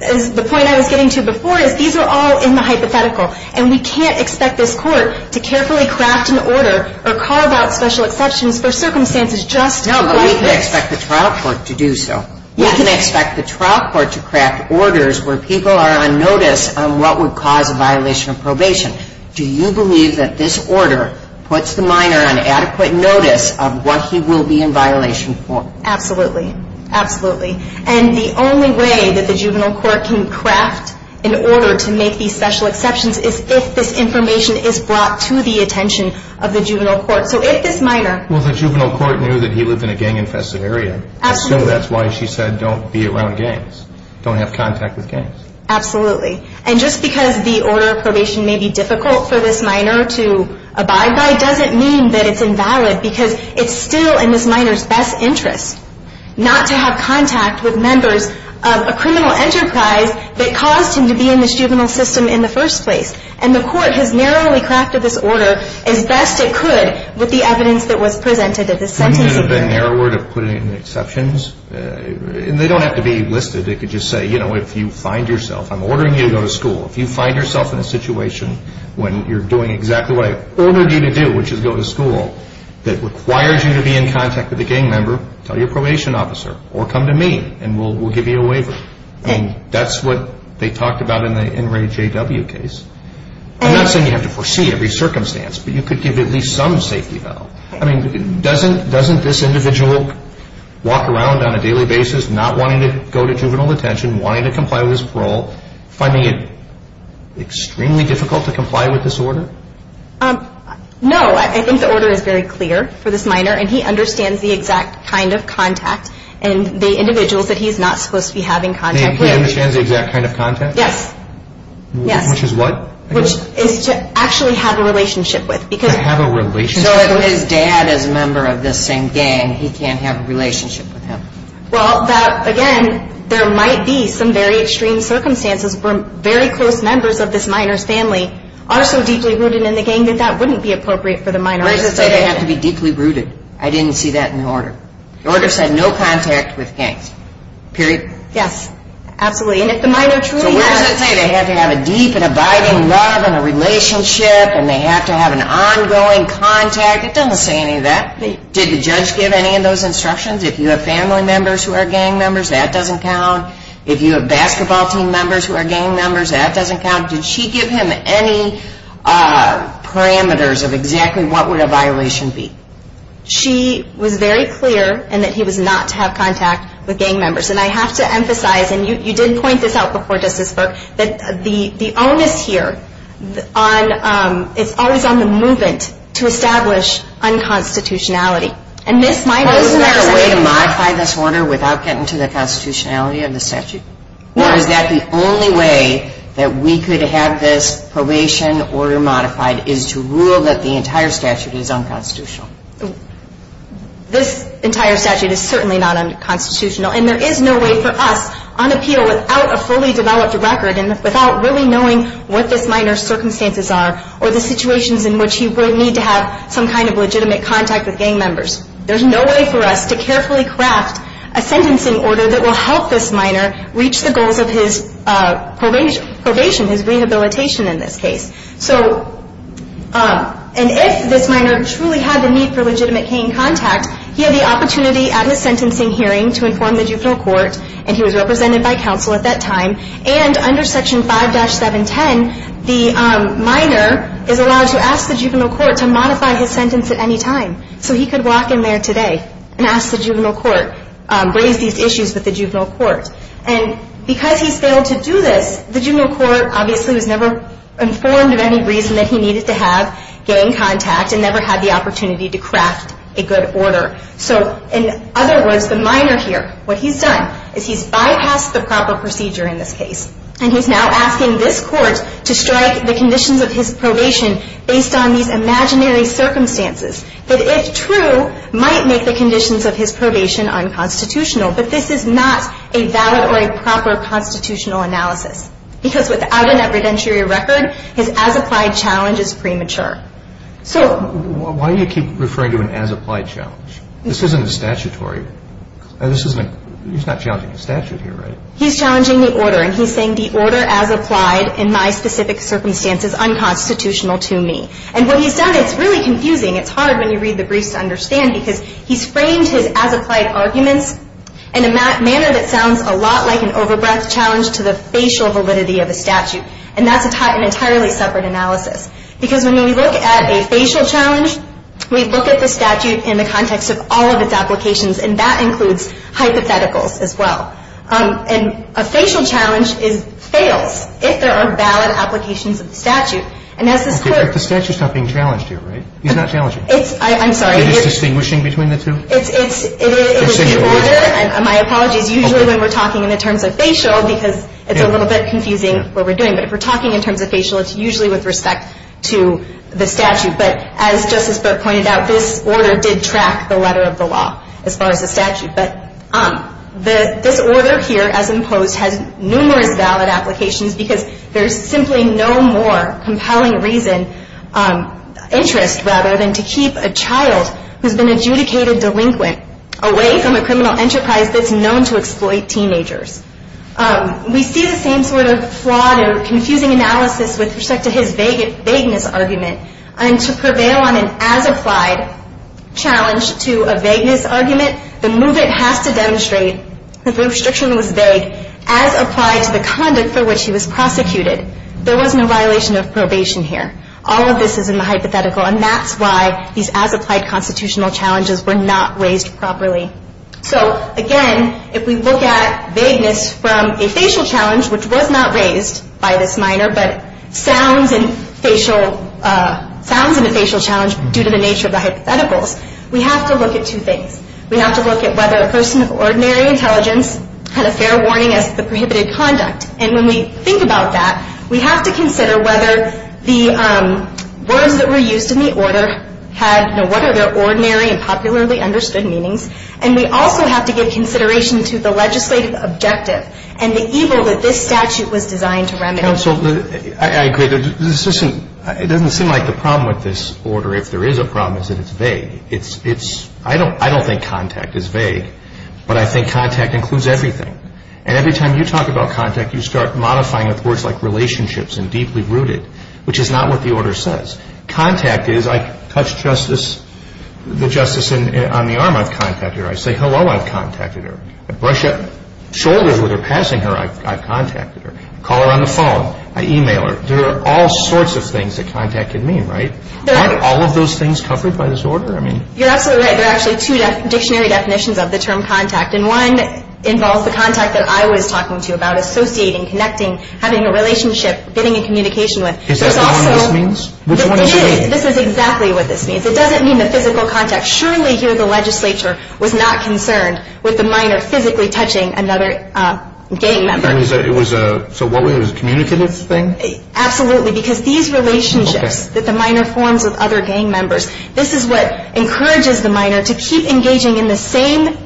the point I was getting to before is these are all in the hypothetical. And we can't expect this court to carefully craft an order or call about special exceptions for circumstances just like this. No, but we can expect the trial court to do so. We can expect the trial court to craft orders where people are on notice on what would cause a violation of probation. Do you believe that this order puts the minor on adequate notice of what he will be in violation for? Absolutely. Absolutely. And the only way that the juvenile court can craft an order to make these special exceptions is if this information is brought to the attention of the juvenile court. So if this minor... Well, the juvenile court knew that he lived in a gang-infested area. Absolutely. I assume that's why she said don't be around gangs. Don't have contact with gangs. Absolutely. And just because the order of probation may be difficult for this minor to abide by doesn't mean that it's invalid because it's still in this minor's best interest not to have contact with members of a criminal enterprise that caused him to be in this juvenile system in the first place. And the court has narrowly crafted this order as best it could with the evidence that was presented at the sentencing. Couldn't it have been narrower to put in exceptions? And they don't have to be listed. It could just say, you know, if you find yourself... I'm ordering you to go to school. If you find yourself in a situation when you're doing exactly what I ordered you to do, which is go to school, that requires you to be in contact with a gang member, tell your probation officer, or come to me and we'll give you a waiver. And that's what they talked about in the NRAJW case. I'm not saying you have to foresee every circumstance, but you could give at least some safety valve. I mean, doesn't this individual walk around on a daily basis not wanting to go to juvenile detention, wanting to comply with his parole, finding it extremely difficult to comply with this order? No. I think the order is very clear for this minor, and he understands the exact kind of contact and the individuals that he's not supposed to be having contact with. He understands the exact kind of contact? Yes. Which is what? Which is to actually have a relationship with. To have a relationship with? So if his dad is a member of this same gang, he can't have a relationship with him. Well, again, there might be some very extreme circumstances where very close members of this minor's family are so deeply rooted in the gang that that wouldn't be appropriate for the minor. So where does it say they have to be deeply rooted? I didn't see that in the order. The order said no contact with gangs. Period. Yes. Absolutely. And if the minor truly has... So where does it say they have to have a deep and abiding love and a relationship and they have to have an ongoing contact? It doesn't say any of that. Did the judge give any of those instructions? If you have family members who are gang members, that doesn't count. If you have basketball team members who are gang members, that doesn't count. Did she give him any parameters of exactly what would a violation be? She was very clear in that he was not to have contact with gang members. And I have to emphasize, and you did point this out before Justice Burke, that the onus here is always on the movement to establish unconstitutionality. And this minor... Wasn't there a way to modify this order without getting to the constitutionality of the statute? No. Or is that the only way that we could have this probation order modified is to rule that the entire statute is unconstitutional? This entire statute is certainly not unconstitutional, and there is no way for us on appeal without a fully developed record and without really knowing what this minor's circumstances are or the situations in which he would need to have some kind of legitimate contact with gang members. There's no way for us to carefully craft a sentencing order that will help this minor reach the goals of his probation, his rehabilitation in this case. And if this minor truly had the need for legitimate gang contact, he had the opportunity at his sentencing hearing to inform the juvenile court, and he was represented by counsel at that time. And under Section 5-710, the minor is allowed to ask the juvenile court to modify his sentence at any time. So he could walk in there today and ask the juvenile court, raise these issues with the juvenile court. And because he's failed to do this, the juvenile court obviously was never informed of any reason that he needed to have gang contact and never had the opportunity to craft a good order. So in other words, the minor here, what he's done is he's bypassed the proper procedure in this case, and he's now asking this court to strike the conditions of his probation based on these imaginary circumstances that, if true, might make the conditions of his probation unconstitutional. But this is not a valid or a proper constitutional analysis because without an evidentiary record, his as-applied challenge is premature. So... Why do you keep referring to an as-applied challenge? This isn't a statutory... This isn't a... He's challenging the order. And he's saying the order as applied in my specific circumstance is unconstitutional to me. And what he's done, it's really confusing. It's hard when you read the briefs to understand because he's framed his as-applied arguments in a manner that sounds a lot like an over-breath challenge to the facial validity of a statute. And that's an entirely separate analysis. Because when we look at a facial challenge, we look at the statute in the context of all of its applications, and that includes hypotheticals as well. And a facial challenge fails if there are valid applications of the statute. And as this Court... But the statute's not being challenged here, right? He's not challenging it. I'm sorry. You're just distinguishing between the two? It's the order. My apologies. Usually when we're talking in the terms of facial because it's a little bit confusing what we're doing. But if we're talking in terms of facial, it's usually with respect to the statute. But as Justice Booth pointed out, this order did track the letter of the law as far as the statute. But this order here, as imposed, has numerous valid applications because there's simply no more compelling reason, interest rather, than to keep a child who's been adjudicated delinquent away from a criminal enterprise that's known to exploit teenagers. We see the same sort of flawed or confusing analysis with respect to his vagueness argument. And to prevail on an as-applied challenge to a vagueness argument, the movement has to demonstrate that the restriction was vague as applied to the conduct for which he was prosecuted. There was no violation of probation here. All of this is in the hypothetical, and that's why these as-applied constitutional challenges were not raised properly. So, again, if we look at vagueness from a facial challenge, which was not raised by this minor, but sounds in a facial challenge due to the nature of the hypotheticals, we have to look at two things. We have to look at whether a person of ordinary intelligence had a fair warning as to the prohibited conduct. And when we think about that, we have to consider whether the words that were used in the order had what are their ordinary and popularly understood meanings. And we also have to give consideration to the legislative objective and the evil that this statute was designed to remedy. Counsel, I agree. It doesn't seem like the problem with this order, if there is a problem, is that it's vague. I don't think contact is vague, but I think contact includes everything. And every time you talk about contact, you start modifying it with words like relationships and deeply rooted, which is not what the order says. Contact is, I touch the justice on the arm, I've contacted her. I say hello, I've contacted her. I brush up shoulders with her passing her, I've contacted her. I call her on the phone. I e-mail her. There are all sorts of things that contact can mean, right? Aren't all of those things covered by this order? You're absolutely right. There are actually two dictionary definitions of the term contact, and one involves the contact that I was talking to you about, associating, connecting, having a relationship, getting in communication with. Is that what this means? Which one does it mean? This is exactly what this means. It doesn't mean the physical contact. Surely here the legislature was not concerned with the minor physically touching another gang member. So it was a communicative thing? Absolutely. Because these relationships that the minor forms with other gang members, this is what encourages the minor to keep engaging in the same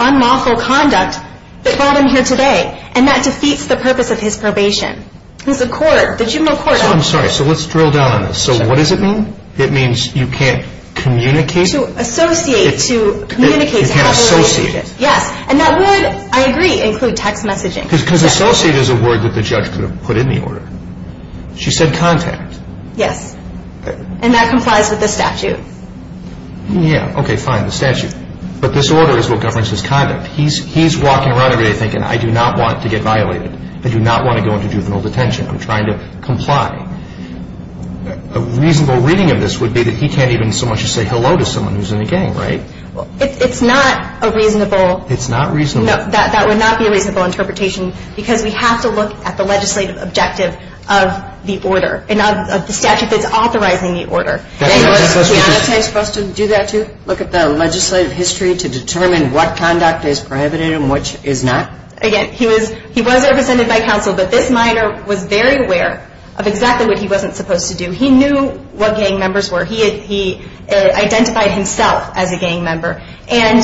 unlawful conduct that brought him here today. And that defeats the purpose of his probation. The juvenile court action. I'm sorry. So let's drill down on this. So what does it mean? It means you can't communicate? To associate, to communicate, to have a relationship. Yes. And that would, I agree, include text messaging. Because associate is a word that the judge could have put in the order. She said contact. Yes. And that complies with the statute. Yeah, okay, fine, the statute. But this order is what governs his conduct. He's walking around every day thinking, I do not want to get violated. I do not want to go into juvenile detention. I'm trying to comply. A reasonable reading of this would be that he can't even so much as say hello to someone who's in a gang, right? It's not a reasonable. It's not reasonable. That would not be a reasonable interpretation. Because we have to look at the legislative objective of the order and of the statute that's authorizing the order. Do you want us to do that too? Look at the legislative history to determine what conduct is prohibited and which is not? Again, he was represented by counsel, but this minor was very aware of exactly what he wasn't supposed to do. He knew what gang members were. He identified himself as a gang member. And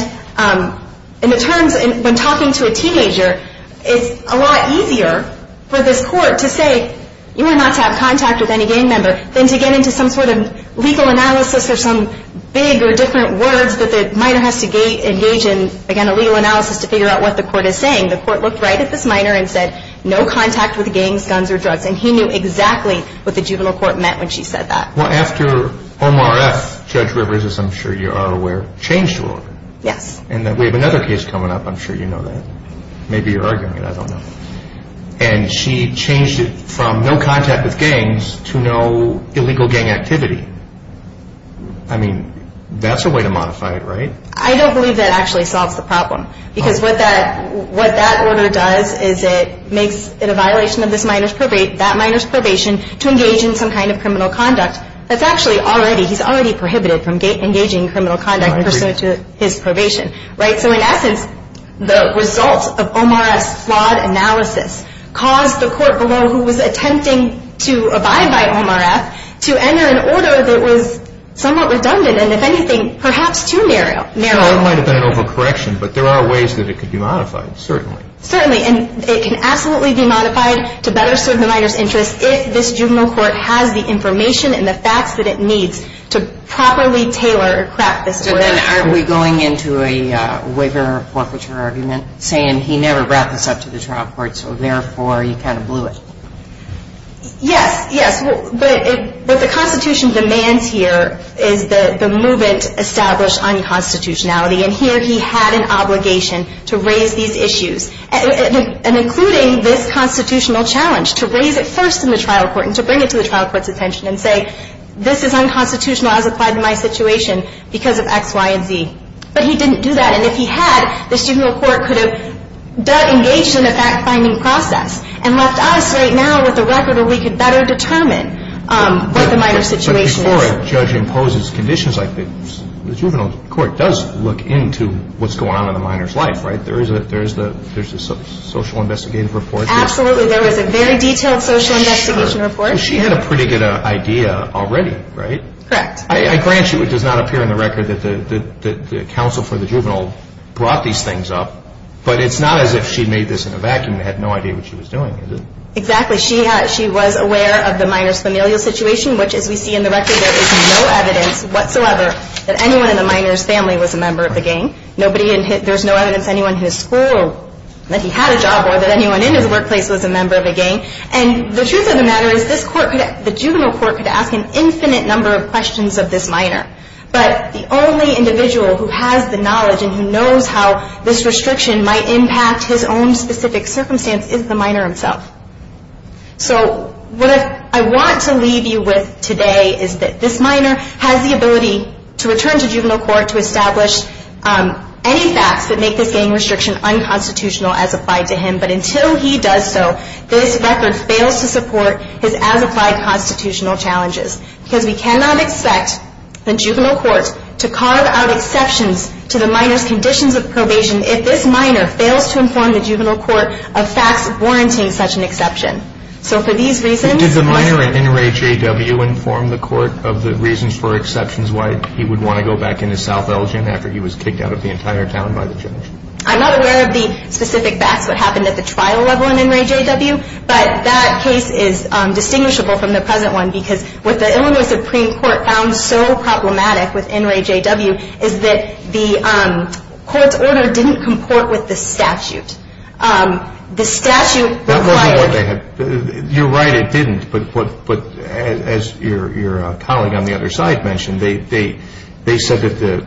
it turns, when talking to a teenager, it's a lot easier for this court to say, you are not to have contact with any gang member, than to get into some sort of legal analysis or some big or different words that the minor has to engage in. Again, a legal analysis to figure out what the court is saying. The court looked right at this minor and said, no contact with gangs, guns, or drugs. And he knew exactly what the juvenile court meant when she said that. Well, after Omar F., Judge Rivers, as I'm sure you are aware, changed the order. Yes. And we have another case coming up, I'm sure you know that. Maybe you're arguing it, I don't know. And she changed it from no contact with gangs to no illegal gang activity. I mean, that's a way to modify it, right? I don't believe that actually solves the problem. Because what that order does is it makes it a violation of that minor's probation to engage in some kind of criminal conduct That's actually already, he's already prohibited from engaging in criminal conduct pursuant to his probation. So in essence, the result of Omar F.'s flawed analysis caused the court below, who was attempting to abide by Omar F., to enter an order that was somewhat redundant, and if anything, perhaps too narrow. It might have been an overcorrection, but there are ways that it could be modified, certainly. Certainly. And it can absolutely be modified to better serve the minor's interests if this juvenile court has the information and the facts that it needs to properly tailor or craft this order. So then aren't we going into a waiver or a forfeiture argument saying he never brought this up to the trial court, so therefore he kind of blew it? Yes, yes. But the Constitution demands here is the movement established on constitutionality. And here he had an obligation to raise these issues. And including this constitutional challenge, to raise it first in the trial court and to bring it to the trial court's attention and say this is unconstitutional as applied to my situation because of X, Y, and Z. But he didn't do that. And if he had, the juvenile court could have engaged in a fact-finding process and left us right now with a record where we could better determine what the minor's situation is. So before a judge imposes conditions like this, the juvenile court does look into what's going on in the minor's life, right? There is a social investigative report. Absolutely. There is a very detailed social investigation report. She had a pretty good idea already, right? Correct. I grant you it does not appear in the record that the counsel for the juvenile brought these things up, but it's not as if she made this in a vacuum and had no idea what she was doing, is it? Exactly. She was aware of the minor's familial situation, which as we see in the record there is no evidence whatsoever that anyone in the minor's family was a member of the gang. There's no evidence anyone in his school that he had a job or that anyone in his workplace was a member of a gang. And the truth of the matter is the juvenile court could ask an infinite number of questions of this minor, but the only individual who has the knowledge and who knows how this restriction might impact his own specific circumstance is the minor himself. So what I want to leave you with today is that this minor has the ability to return to juvenile court to establish any facts that make this gang restriction unconstitutional as applied to him, but until he does so, this record fails to support his as-applied constitutional challenges because we cannot expect the juvenile court to carve out exceptions to the minor's conditions of probation if this minor fails to inform the juvenile court of facts warranting such an exception. So for these reasons... Did the minor at NRAJW inform the court of the reasons for exceptions why he would want to go back into South Elgin after he was kicked out of the entire town by the judge? I'm not aware of the specific facts, what happened at the trial level in NRAJW, but that case is distinguishable from the present one because what the Illinois Supreme Court found so problematic with NRAJW is that the court's order didn't comport with the statute. The statute required... You're right, it didn't, but as your colleague on the other side mentioned, they said that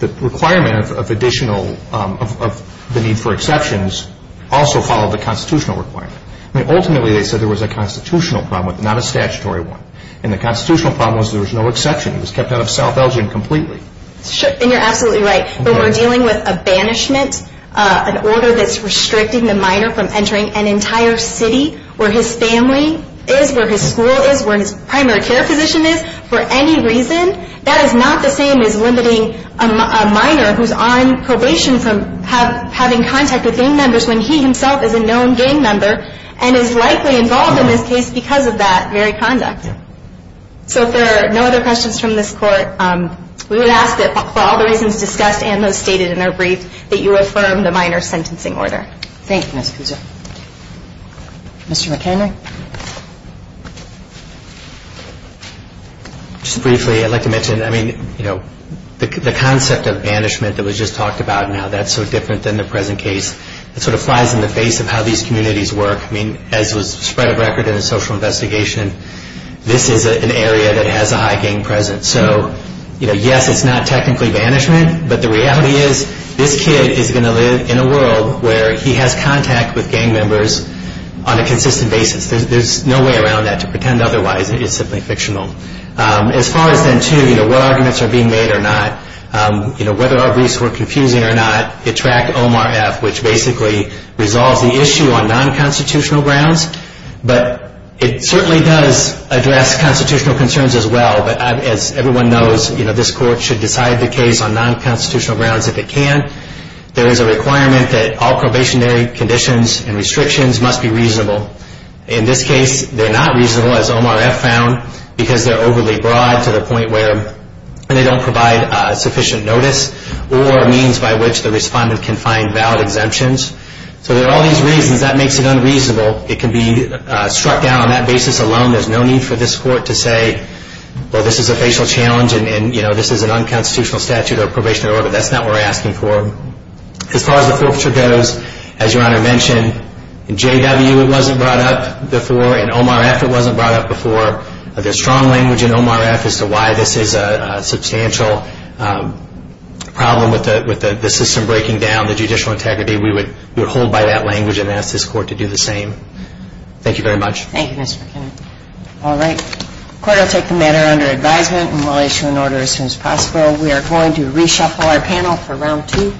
the requirement of the need for exceptions also followed the constitutional requirement. Ultimately, they said there was a constitutional problem, not a statutory one, and the constitutional problem was there was no exception. He was kept out of South Elgin completely. And you're absolutely right, but we're dealing with a banishment, an order that's restricting the minor from entering an entire city where his family is, where his school is, where his primary care position is, for any reason. That is not the same as limiting a minor who's on probation from having contact with gang members when he himself is a known gang member and is likely involved in this case because of that very conduct. So if there are no other questions from this court, we would ask that for all the reasons discussed and those stated in our brief that you affirm the minor's sentencing order. Thank you, Ms. Puzo. Mr. McKenry? Just briefly, I'd like to mention, I mean, you know, the concept of banishment that was just talked about now, that's so different than the present case. It sort of flies in the face of how these communities work. I mean, as was spread of record in the social investigation, this is an area that has a high gang presence. So, you know, yes, it's not technically banishment, but the reality is this kid is going to live in a world where he has contact with gang members on a consistent basis. There's no way around that. To pretend otherwise is simply fictional. As far as then, too, you know, what arguments are being made or not, you know, whether our briefs were confusing or not, it tracked OMRF, which basically resolves the issue on non-constitutional grounds. But it certainly does address constitutional concerns as well. But as everyone knows, you know, this court should decide the case on non-constitutional grounds if it can. There is a requirement that all probationary conditions and restrictions must be reasonable. In this case, they're not reasonable, as OMRF found, because they're overly broad to the point where they don't provide sufficient notice or means by which the respondent can find valid exemptions. So there are all these reasons. That makes it unreasonable. It can be struck down on that basis alone. There's no need for this court to say, well, this is a facial challenge and, you know, this is an unconstitutional statute or probationary order. That's not what we're asking for. As far as the forfeiture goes, as Your Honor mentioned, in JW it wasn't brought up before. In OMRF it wasn't brought up before. There's strong language in OMRF as to why this is a substantial problem with the system breaking down, the judicial integrity. We would hold by that language and ask this court to do the same. Thank you very much. Thank you, Mr. McKinnon. All right. The court will take the matter under advisement and will issue an order as soon as possible. We are going to reshuffle our panel for Round 2.